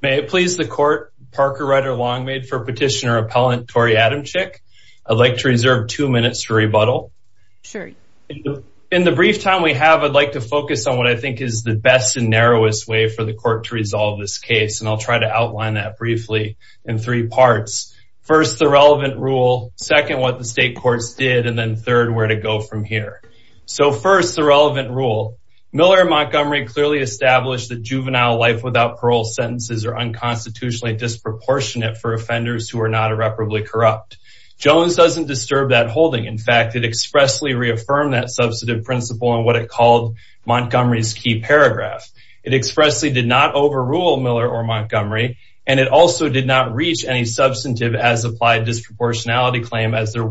May it please the court, Parker Ryder Longmaid for petitioner appellant Torey Adamcik. I'd like to reserve two minutes to rebuttal. In the brief time we have, I'd like to focus on what I think is the best and narrowest way for the court to resolve this case. And I'll try to outline that briefly in three parts. First, the relevant rule. Second, what the state courts did. And then third, where to go from here. So first, the relevant rule. Miller Montgomery clearly established that juvenile life without parole sentences are unconstitutionally disproportionate for offenders who are not irreparably corrupt. Jones doesn't disturb that holding. In fact, it expressly reaffirmed that substantive principle and what it called Montgomery's key paragraph. It expressly did not overrule Miller or Montgomery, and it also did not reach any substantive as applied disproportionality claim as there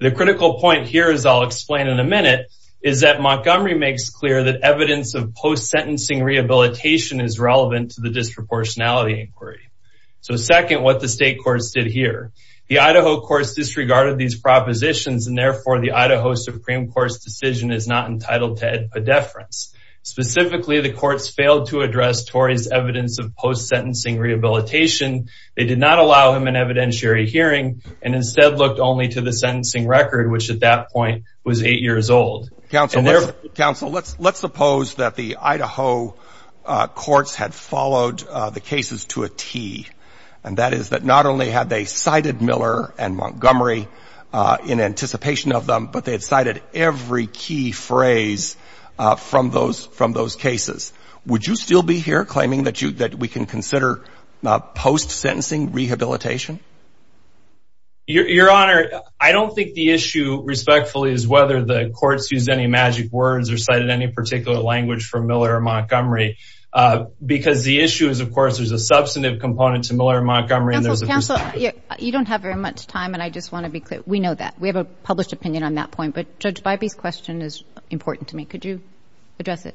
The critical point here, as I'll explain in a minute, is that Montgomery makes clear that evidence of post-sentencing rehabilitation is relevant to the disproportionality inquiry. So second, what the state courts did here. The Idaho courts disregarded these propositions and therefore the Idaho Supreme Court's decision is not entitled to a deference. Specifically, the courts failed to address Torey's evidence of post-sentencing rehabilitation. They did not allow him an evidentiary hearing and instead looked only to the sentencing record, which at that point was eight years old. Counsel, let's suppose that the Idaho courts had followed the cases to a T. And that is that not only had they cited Miller and Montgomery in anticipation of them, but they had cited every key phrase from those cases. Would you still be here claiming that we can consider post-sentencing rehabilitation? Your Honor, I don't think the issue, respectfully, is whether the courts used any magic words or cited any particular language from Miller or Montgomery. Because the issue is, of course, there's a substantive component to Miller and Montgomery and there's a perspective. You don't have very much time and I just want to be clear. We know that. We have a published opinion on that point, but Judge Bybee's question is important to me. Could you address it?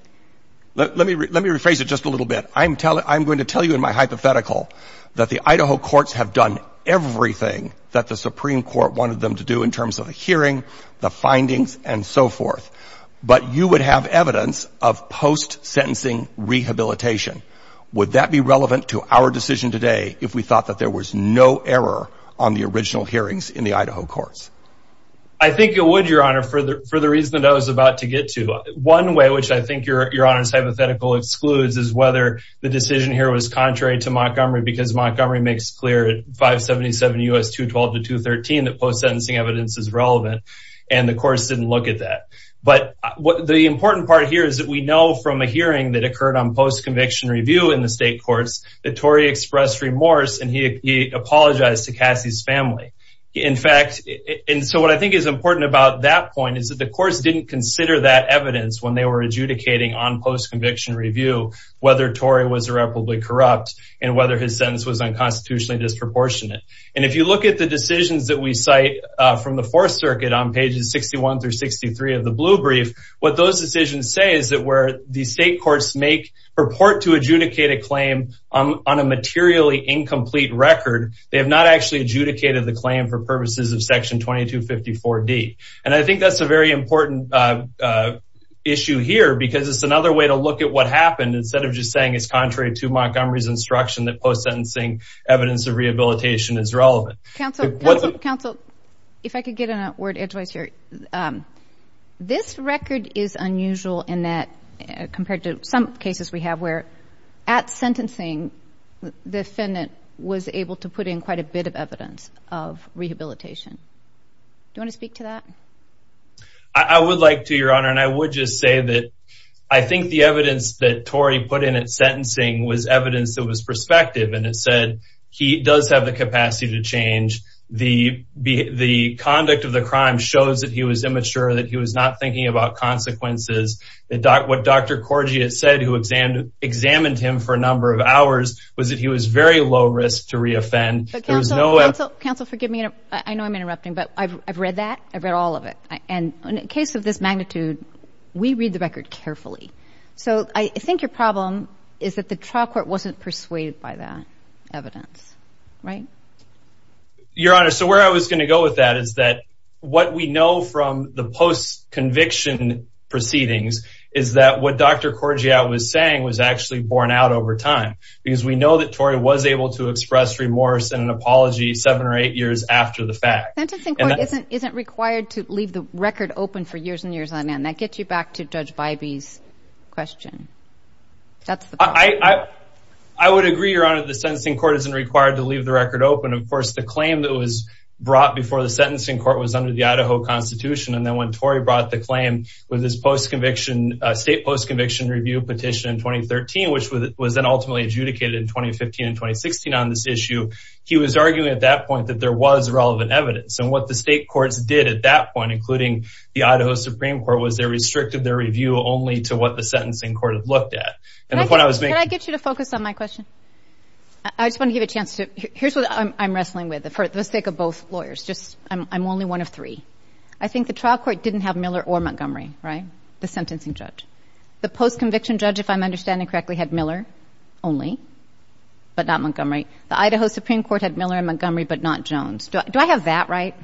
Let me rephrase it just a little bit. I'm going to tell you in my hypothetical that the Idaho courts have done everything that the Supreme Court wanted them to do in terms of the hearing, the findings, and so forth. But you would have evidence of post-sentencing rehabilitation. Would that be relevant to our decision today if we thought that there was no error on the original hearings in the Idaho courts? I think it would, Your Honor, for the reason that I was about to get to. One way which I think Your Honor's hypothetical excludes is whether the decision here was contrary to Montgomery because Montgomery makes clear at 577 U.S. 212 to 213 that post-sentencing evidence is relevant and the courts didn't look at that. But the important part here is that we know from a hearing that occurred on post-conviction review in the state courts that Torrey expressed remorse and he apologized to Cassie's family. In fact, and so what I think is important about that point is that the courts didn't consider that evidence when they were adjudicating on post-conviction review whether Torrey was irreparably corrupt and whether his sentence was unconstitutionally disproportionate. And if you look at the decisions that we cite from the Fourth Circuit on pages 61 through 63 of the Blue Brief, what those decisions say is that where the state courts make, purport to adjudicate a claim on a materially incomplete record, they have not actually adjudicated the claim for purposes of Section 2254D. And I think that's a very important issue here because it's another way to look at what happened instead of just saying it's contrary to Montgomery's instruction that post-sentencing evidence of rehabilitation is relevant. Counsel, counsel, if I could get a word in here. This record is unusual in that compared to some cases we have where at sentencing the defendant was able to put in quite a bit of evidence of rehabilitation. Do you want to speak to that? I would like to, Your Honor, and I would just say that I think the evidence that Torrey put in at sentencing was evidence that was prospective and it said he does have the capacity to change. The conduct of the crime shows that he was immature, that he was not thinking about consequences. What Dr. Corgi had said who examined him for a number of hours was that he was very low risk to re-offend. Counsel, counsel, forgive me. I know I'm interrupting, but I've read that. I've read all of it. And in a case of this magnitude, we read the record carefully. So I think your problem is that the trial court wasn't persuaded by that evidence, right? Your Honor, so where I was going to go with that is that what we know from the post-conviction proceedings is that what Dr. Corgi was saying was actually borne out over time because we know that Torrey was able to express remorse and an apology seven or eight years after The sentencing court isn't required to leave the record open for years and years on end. That gets you back to Judge Bybee's question. I would agree, Your Honor, the sentencing court isn't required to leave the record open. Of course, the claim that was brought before the sentencing court was under the Idaho Constitution. And then when Torrey brought the claim with his post-conviction, state post-conviction review petition in 2013, which was then ultimately adjudicated in 2015 and 2016 on this issue, he was arguing at that point that there was relevant evidence. And what the state courts did at that point, including the Idaho Supreme Court, was they restricted their review only to what the sentencing court had looked at. Can I get you to focus on my question? I just want to give a chance to... Here's what I'm wrestling with for the sake of both lawyers. I'm only one of three. I think the trial court didn't have Miller or Montgomery, right? The sentencing judge. The post-conviction judge, if I'm understanding correctly, had Miller only, but not Montgomery. The Idaho Supreme Court had Miller and Montgomery, but not Jones. Do I have that right?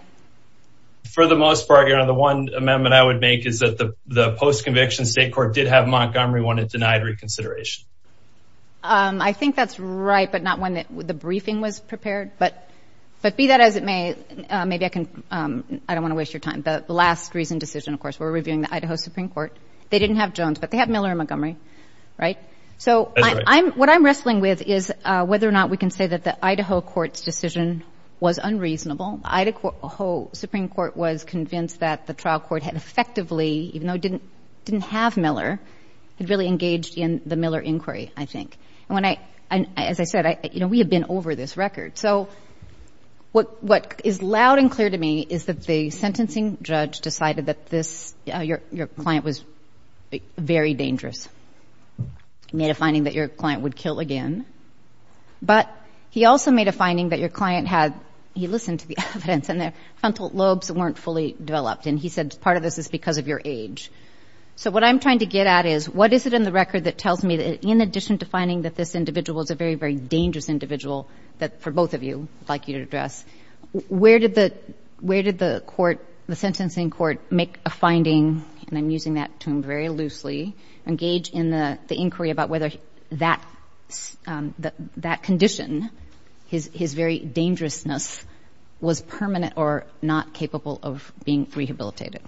For the most part, Your Honor, the one amendment I would make is that the post-conviction state court did have Montgomery when it denied reconsideration. I think that's right, but not when the briefing was prepared. But be that as it may, maybe I can... I don't want to waste your time, but the last reasoned decision, of course, were reviewing the Idaho Supreme Court. They didn't have Jones, but they had Miller and Montgomery, right? So what I'm wrestling with is whether or not we can say that the Idaho court's decision was unreasonable. Idaho Supreme Court was convinced that the trial court had effectively, even though it didn't have Miller, had really engaged in the Miller inquiry, I think. And as I said, we have been over this record. So what is loud and clear to me is that the sentencing judge decided that your client was very dangerous. He made a finding that your client would kill again. But he also made a finding that your client had, he listened to the evidence, and their frontal lobes weren't fully developed. And he said part of this is because of your age. So what I'm trying to get at is what is it in the record that tells me that in addition to finding that this individual is a very, very dangerous individual that, for both of you, I'd like you to address, where did the court, the sentencing court, make a finding – and I'm using that term very loosely – engage in the inquiry about whether that condition, his very dangerousness, was permanent or not capable of being rehabilitated?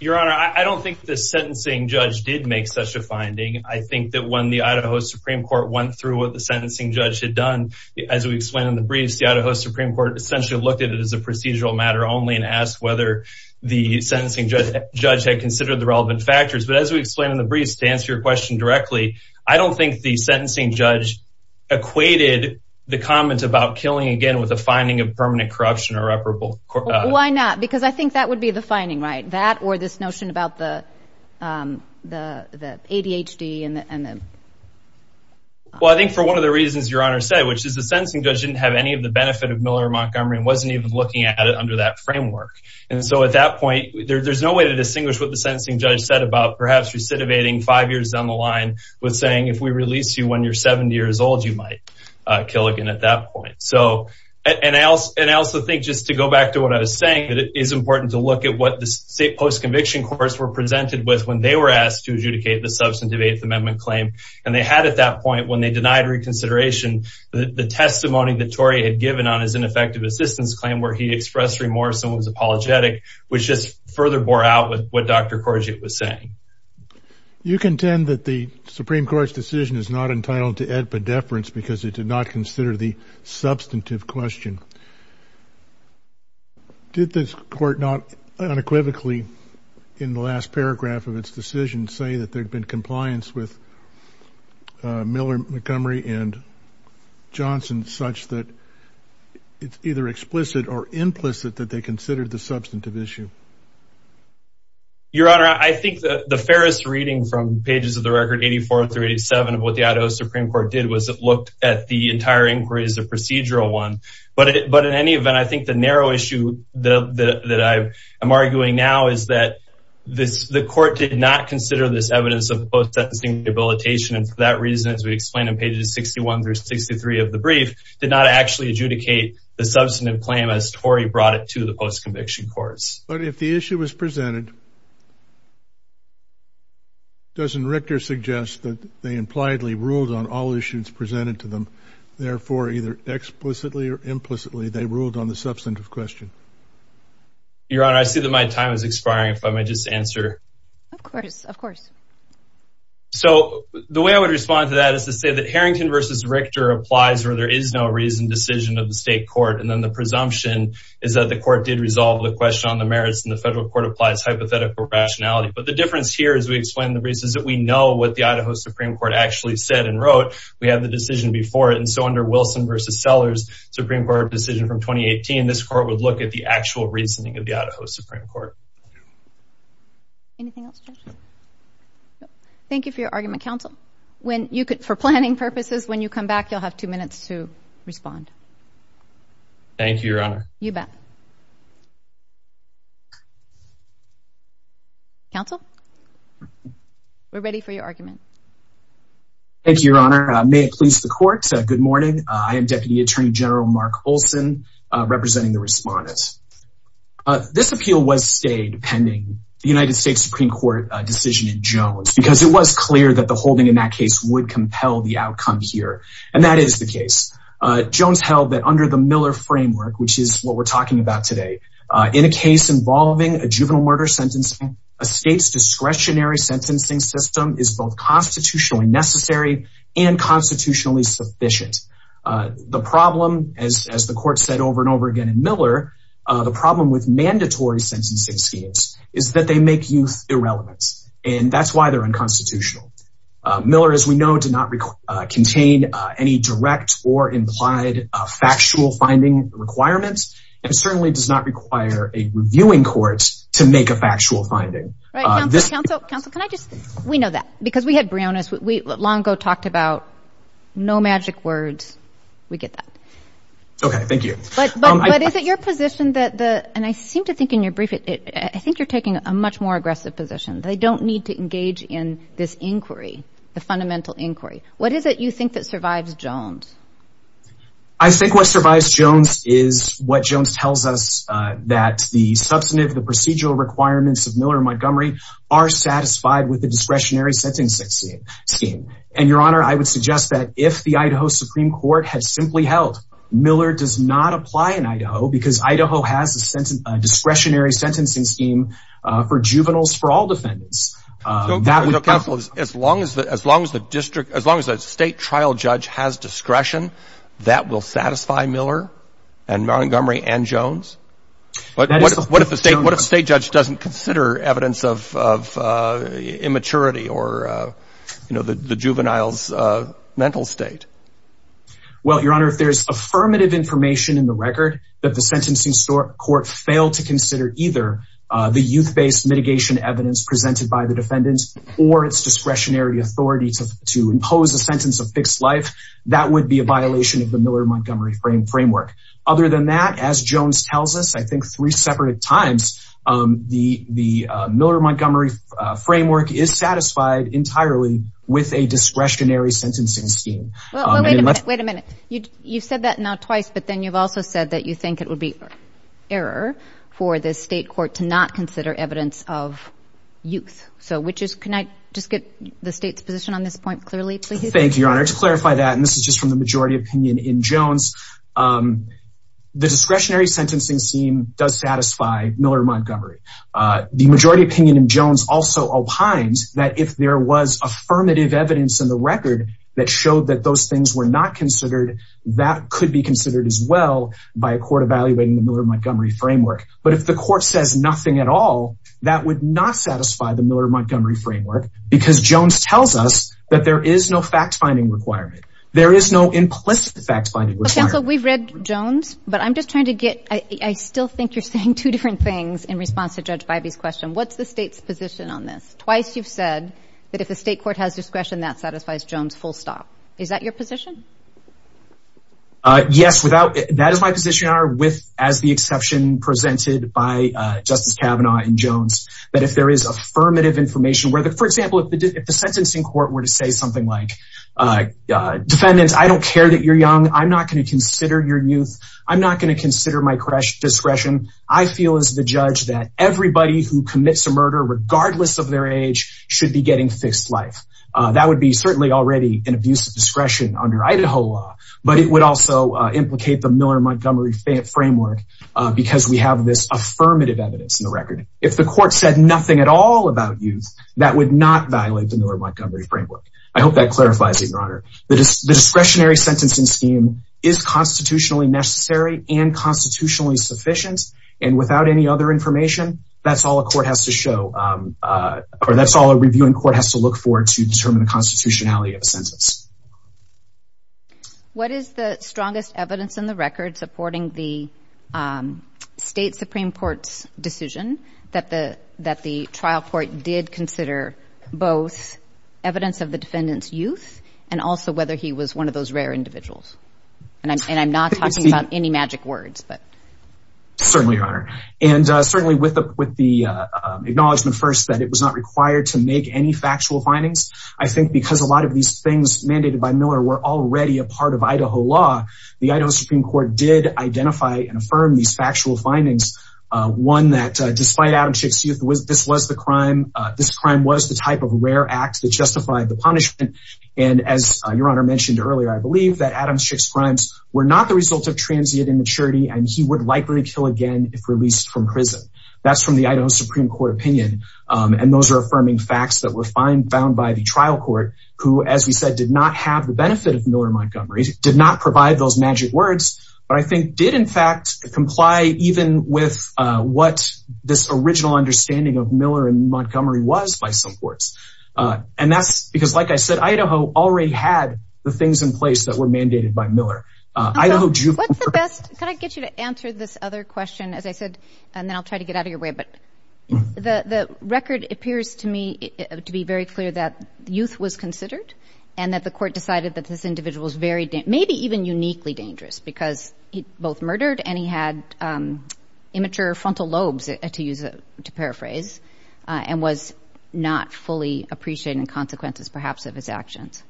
Your Honor, I don't think the sentencing judge did make such a finding. I think that when the Idaho Supreme Court went through what the sentencing judge had done, as we explained in the briefs, the Idaho Supreme Court essentially looked at it as a procedural matter only and asked whether the sentencing judge had considered the relevant factors. But as we explained in the briefs, to answer your question directly, I don't think the sentencing judge equated the comment about killing again with a finding of permanent corruption or reparable – Why not? Because I think that would be the finding, right? That or this notion about the ADHD and the – Well, I think for one of the reasons your Honor said, which is the sentencing judge didn't have any of the benefit of Miller Montgomery and wasn't even looking at it under that framework. And so at that point, there's no way to distinguish what the sentencing judge said about perhaps recidivating five years down the line with saying, if we release you when you're 70 years old, you might kill again at that point. So – and I also think, just to go back to what I was saying, that it is important to look at what the post-conviction courts were presented with when they were asked to adjudicate the substantive Eighth Amendment claim. And they had at that point, when they denied reconsideration, the testimony that Tory had given on his ineffective assistance claim where he expressed remorse and was apologetic, which just further bore out with what Dr. Courgette was saying. You contend that the Supreme Court's decision is not entitled to ad pedeference because it did not consider the substantive question. Did this court not unequivocally, in the last paragraph of its decision, say that there had been compliance with Miller Montgomery and Johnson such that it's either explicit or implicit that they considered the substantive issue? Your Honor, I think the fairest reading from pages of the record 84 through 87 of what the Idaho Supreme Court did was it looked at the entire inquiry as a procedural one. But in any event, I think the narrow issue that I am arguing now is that the court did not consider this evidence of post-sentencing rehabilitation. And for that reason, as we explained in pages 61 through 63 of the brief, did not actually adjudicate the substantive claim as Tory brought it to the post-conviction courts. But if the issue was presented, doesn't Richter suggest that they impliedly ruled on all issues presented to them? Therefore, either explicitly or implicitly, they ruled on the substantive question? Your Honor, I see that my time is expiring. If I may just answer. Of course. Of course. So the way I would respond to that is to say that Harrington v. Richter applies where there is no reason decision of the state court. And then the presumption is that the court did resolve the question on the merits and the federal court applies hypothetical rationality. But the difference here is we explain the reasons that we know what the Idaho Supreme Court actually said and wrote. We have the decision before it. And so under Wilson v. Sellers Supreme Court decision from 2018, this court would look at the actual reasoning of the Idaho Supreme Court. Anything else? Thank you for your argument, counsel. When you could for planning purposes, when you Thank you, Your Honor. You bet. Counsel, we're ready for your argument. Thank you, Your Honor. May it please the court. Good morning. I am Deputy Attorney General Mark Olson representing the respondents. This appeal was stayed pending the United States Supreme Court decision in Jones because it was clear that the holding in that case would compel the outcome here. And that is the case. Jones held that under the Miller framework, which is what we're talking about today in a case involving a juvenile murder sentencing, a state's discretionary sentencing system is both constitutionally necessary and constitutionally sufficient. The problem, as the court said over and over again in Miller, the problem with mandatory sentencing schemes is that they make youth irrelevant. And that's why they're unconstitutional. Miller, as we know, did not contain any direct or implied factual finding requirements and certainly does not require a reviewing court to make a factual finding. Counsel, counsel, counsel, can I just. We know that because we had Brionis, we long ago talked about no magic words. We get that. OK, thank you. But is it your position that the and I seem to think in your brief, I think you're taking a much more aggressive position. They don't need to engage in this inquiry, the fundamental inquiry. What is it you think that survives Jones? I think what survives Jones is what Jones tells us, that the substantive, the procedural requirements of Miller Montgomery are satisfied with the discretionary sentencing scheme. And your honor, I would suggest that if the Idaho Supreme Court had simply held Miller does not apply in Idaho because Idaho has a discretionary sentencing scheme for juveniles for all defendants. That would. Counsel, as long as the as long as the district, as long as a state trial judge has discretion, that will satisfy Miller and Montgomery and Jones. But what if the state what a state judge doesn't consider evidence of immaturity or, you know, the juveniles mental state? Well, your honor, if there's affirmative information in the record that the sentencing court failed to consider either the youth based mitigation evidence presented by the defendants or its discretionary authority to to impose a sentence of fixed life, that would be a violation of the Miller Montgomery frame framework. Other than that, as Jones tells us, I think three separate times the the Miller Montgomery framework is satisfied entirely with a discretionary sentencing scheme. Wait a minute. You said that now twice, but then you've also said that you think it would be error for the state court to not consider evidence of youth. So which is can I just get the state's position on this point clearly? Thank you, your honor. To clarify that, and this is just from the majority opinion in Jones, the discretionary sentencing scheme does satisfy Miller Montgomery. The majority opinion in Jones also opines that if there was affirmative evidence in the record that showed that those things were not considered, that could be considered as well by a court evaluating the Miller Montgomery framework. But if the court says nothing at all, that would not satisfy the Miller Montgomery framework because Jones tells us that there is no fact finding requirement. There is no implicit fact finding. So we've read Jones, but I'm just trying to get I still think you're saying two different things in response to Judge Bybee's question. What's the state's position on this? Twice you've said that if the state court has discretion, that satisfies Jones full stop. Is that your position? Yes, without that is my position are with as the exception presented by Justice Kavanaugh and Jones, that if there is affirmative information where, for example, if the if the sentencing court were to say something like defendants, I don't care that you're young. I'm not going to consider your youth. I'm not going to consider my discretion. I feel as the judge that everybody who commits a murder regardless of their age should be getting fixed life. That would be certainly already an abuse of discretion under Idaho law, but it would also implicate the Miller Montgomery framework because we have this affirmative evidence in the record. If the court said nothing at all about youth, that would not violate the Miller Montgomery framework. I hope that clarifies it, Your Honor. The discretionary sentencing scheme is constitutionally necessary and constitutionally sufficient. And without any other information, that's all a court has to show or that's all a reviewing court has to look for to determine the constitutionality of a sentence. What is the strongest evidence in the record supporting the state Supreme Court's decision that the that the trial court did consider both evidence of the defendant's youth and also whether he was one of those rare individuals? And I'm not talking about any magic words, but. Certainly, Your Honor, and certainly with the with the acknowledgement, first, that it was not required to make any factual findings. I think because a lot of these things mandated by Miller were already a part of Idaho law, the Idaho Supreme Court did identify and affirm these factual findings. One that despite Adam Schick's youth, this was the crime. This crime was the type of rare act that justified the punishment. And as Your Honor mentioned earlier, I believe that Adam Schick's crimes were not the result of transient immaturity and he would likely kill again if released from prison. That's from the Idaho Supreme Court opinion. And those are affirming facts that were found by the trial court, who, as we said, did not have the benefit of Miller-Montgomery, did not provide those magic words, but I think did, in fact, comply even with what this original understanding of Miller and Montgomery was by some courts. And that's because, like I said, Idaho already had the things in place that were mandated by Miller. I know. What's the best? Can I get you to answer this other question, as I said, and then I'll try to get out of your way. But the record appears to me to be very clear that youth was considered and that the court decided that this individual was very, maybe even uniquely dangerous because he both murdered and he had immature frontal lobes, to use, to paraphrase, and was not fully appreciating consequences, perhaps, of his actions.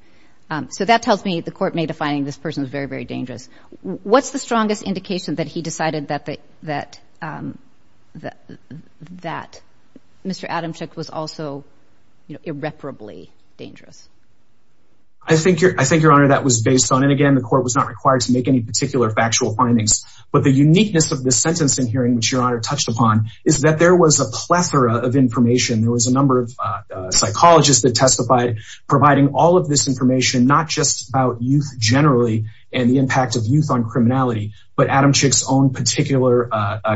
So that tells me the court made a finding this person was very, very dangerous. What's the strongest indication that he decided that Mr. Adamczyk was also irreparably dangerous? I think, Your Honor, that was based on, and again, the court was not required to make any particular factual findings. But the uniqueness of this sentence in hearing, which Your Honor touched upon, is that there was a plethora of information. There was a number of psychologists that testified providing all of this information, not just about youth generally and the impact of youth on criminality, but Adamczyk's own particular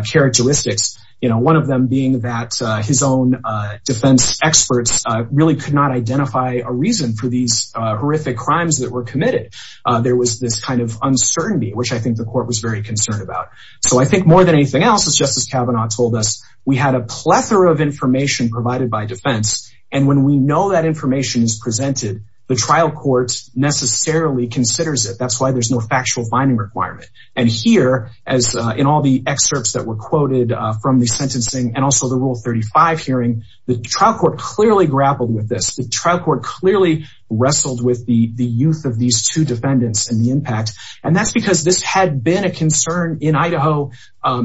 characteristics, you know, one of them being that his own defense experts really could not identify a reason for these horrific crimes that were committed. There was this kind of uncertainty, which I think the court was very concerned about. So I think more than anything else, as Justice Kavanaugh told us, we had a plethora of information provided by defense. And when we know that information is presented, the trial court necessarily considers it. That's why there's no factual finding requirement. And here, as in all the excerpts that were quoted from the sentencing and also the Rule 35 hearing, the trial court clearly grappled with this. The trial court clearly wrestled with the youth of these two defendants and the impact. And that's because this had been a concern in Idaho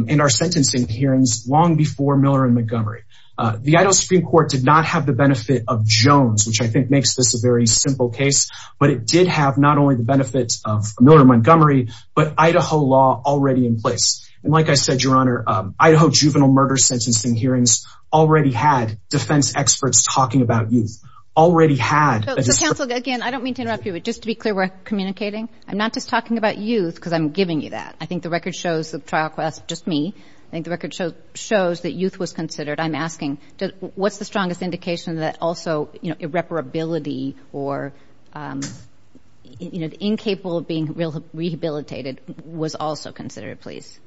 in our sentencing hearings long before Miller and Montgomery. The Idaho Supreme Court did not have the benefit of Jones, which I think makes this a very simple case. But it did have not only the benefits of Miller and Montgomery, but Idaho law already in place. And like I said, Your Honor, Idaho juvenile murder sentencing hearings already had defense experts talking about youth, already had. So counsel, again, I don't mean to interrupt you, but just to be clear, we're communicating. I'm not just talking about youth because I'm giving you that. I think the record shows the trial class, just me, I think the record shows that youth was considered. I'm asking, what's the strongest indication that also, you know, irreparability or, you know, incapable of being rehabilitated was also considered, please?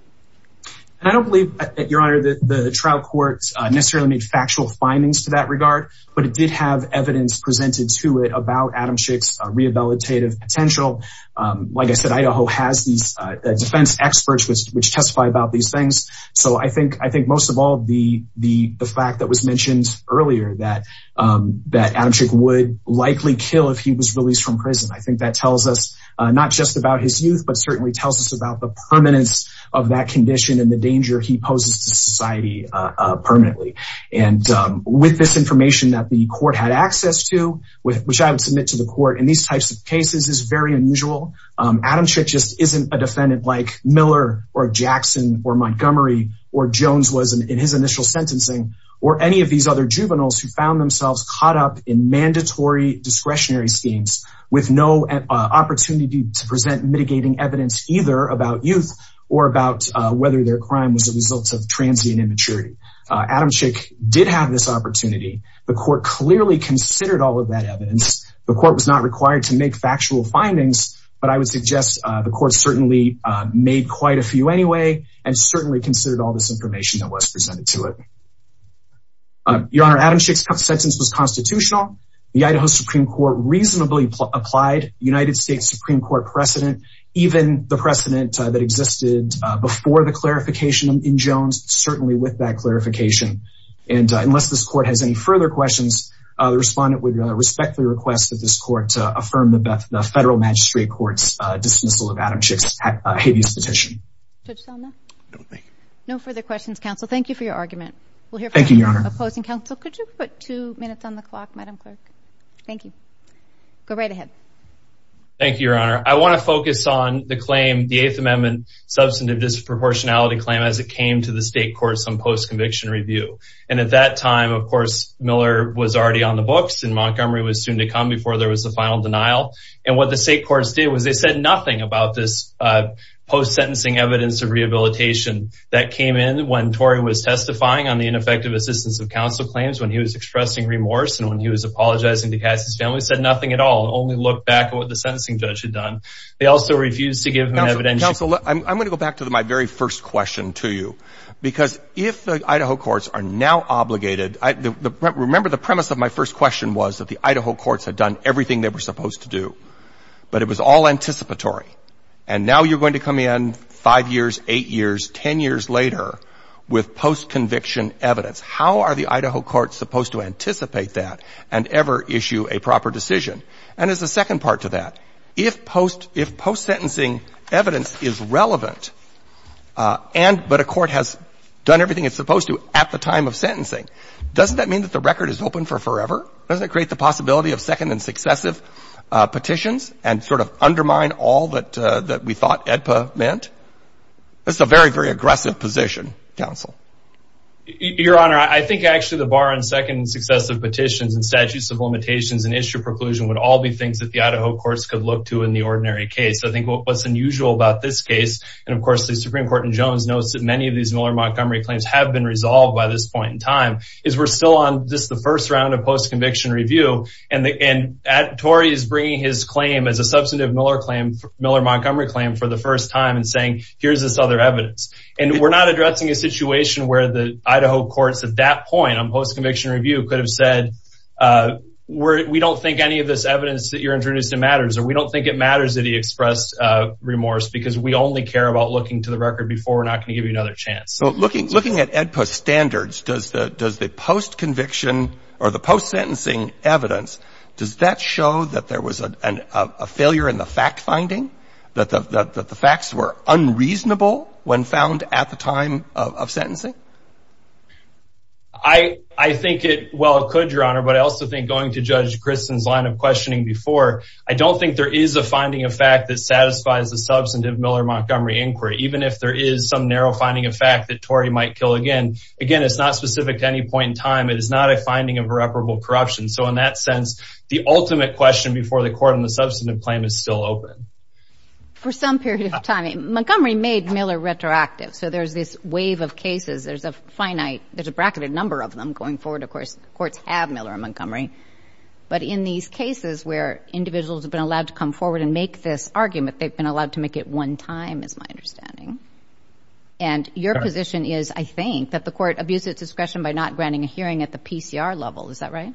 And I don't believe that, Your Honor, that the trial courts necessarily made factual findings to that regard, but it did have evidence presented to it about Adam Schick's rehabilitative potential. Like I said, Idaho has these defense experts which testify about these things. So I think most of all, the fact that was mentioned earlier that Adam Schick would likely kill if he was released from prison. I think that tells us not just about his youth, but certainly tells us about the permanence of that condition and the danger he poses to society permanently. And with this information that the court had access to, which I would submit to the court in these types of cases is very unusual. Adam Schick just isn't a defendant like Miller or Jackson or Montgomery or Jones was in his initial sentencing or any of these other juveniles who found themselves caught up in mandatory discretionary schemes with no opportunity to present mitigating evidence either about youth or about whether their crime was a result of transient immaturity. Adam Schick did have this opportunity. The court clearly considered all of that evidence. The court was not required to make factual findings, but I would suggest the court certainly made quite a few anyway and certainly considered all this information that was presented to it. Your Honor, Adam Schick's sentence was constitutional. The Idaho Supreme Court reasonably applied United States Supreme Court precedent, even the precedent that existed before the clarification in Jones, certainly with that clarification. And unless this court has any further questions, the respondent would respectfully request that this court to affirm the federal magistrate court's dismissal of Adam Schick's habeas petition. No further questions, counsel. Thank you for your argument. We'll hear from the opposing counsel. Could you put two minutes on the clock, Madam Clerk? Thank you. Go right ahead. Thank you, Your Honor. I want to focus on the claim, the Eighth Amendment substantive disproportionality claim as it came to the state courts on post-conviction review. And at that time, of course, Miller was already on the books and Montgomery was soon to come before there was a final denial. And what the state courts did was they said nothing about this post-sentencing evidence of rehabilitation that came in when Torrey was testifying on the ineffective assistance of counsel claims, when he was expressing remorse and when he was apologizing to Cassie's family, said nothing at all, only looked back at what the sentencing judge had done. They also refused to give him evidence. Counsel, I'm going to go back to my very first question to you, because if the Idaho courts are now obligated, I remember the premise of my first question was that the Idaho courts had done everything they were supposed to do, but it was all anticipatory. And now you're going to come in five years, eight years, 10 years later with post-conviction evidence. How are the Idaho courts supposed to anticipate that and ever issue a proper decision? And as a second part to that, if post if post-sentencing evidence is relevant and but a court has done everything it's supposed to at the time of sentencing, doesn't that mean that the record is open for forever? Doesn't it create the possibility of second and successive petitions and sort of undermine all that that we thought AEDPA meant? That's a very, very aggressive position, counsel. Your Honor, I think actually the bar on second and successive petitions and statutes of limitations and issue preclusion would all be things that the Idaho courts could look to in the course of the Supreme Court. And Jones knows that many of these Miller-Montgomery claims have been resolved by this point in time is we're still on just the first round of post conviction review. And Torrey is bringing his claim as a substantive Miller-Montgomery claim for the first time and saying, here's this other evidence. And we're not addressing a situation where the Idaho courts at that point on post conviction review could have said, we don't think any of this evidence that you're introduced to matters or we don't think it matters that he expressed remorse because we only care about looking to the record before. We're not going to give you another chance. So looking looking at AEDPA standards, does the does the post conviction or the post sentencing evidence, does that show that there was a failure in the fact finding that the facts were unreasonable when found at the time of sentencing? I think it well could, Your Honor, but I also think going to judge Kristen's line of questioning before, I don't think there is a finding of fact that satisfies the substantive Miller-Montgomery inquiry, even if there is some narrow finding of fact that Torrey might kill again. Again, it's not specific to any point in time. It is not a finding of irreparable corruption. So in that sense, the ultimate question before the court on the substantive claim is still open. For some period of time, Montgomery made Miller retroactive. So there's this wave of cases. There's a finite there's a bracketed number of them going forward. Of course, courts have Miller and Montgomery. But in these cases where individuals have been allowed to come forward and make this decision, I think it's a matter of time and time, is my understanding, and your position is, I think, that the court abused its discretion by not granting a hearing at the PCR level. Is that right?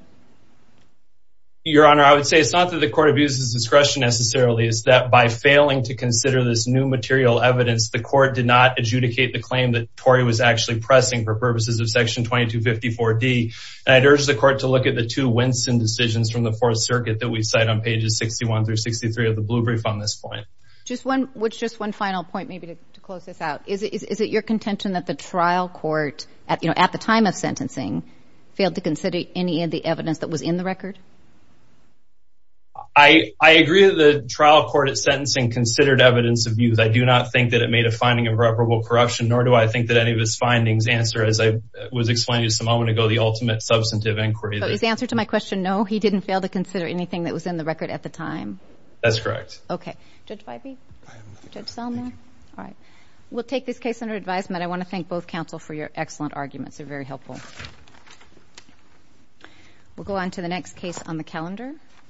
Your Honor, I would say it's not that the court abuses discretion necessarily, is that by failing to consider this new material evidence, the court did not adjudicate the claim that Torrey was actually pressing for purposes of Section 2254 D. And I'd urge the court to look at the two Winson decisions from the Fourth Circuit that we cite on pages 61 through 63 of the Blue Brief on this point. Just one, just one final point, maybe to close this out. Is it your contention that the trial court at the time of sentencing failed to consider any of the evidence that was in the record? I agree that the trial court at sentencing considered evidence of abuse. I do not think that it made a finding of irreparable corruption, nor do I think that any of its findings answer, as I was explaining to you a moment ago, the ultimate substantive inquiry. But is the answer to my question, no, he didn't fail to consider anything that was in the record at the time? That's correct. Okay. Judge Vibey? Judge Salamone? All right. We'll take this case under advisement. I want to thank both counsel for your excellent arguments. They're very helpful. We'll go on to the next case on the calendar.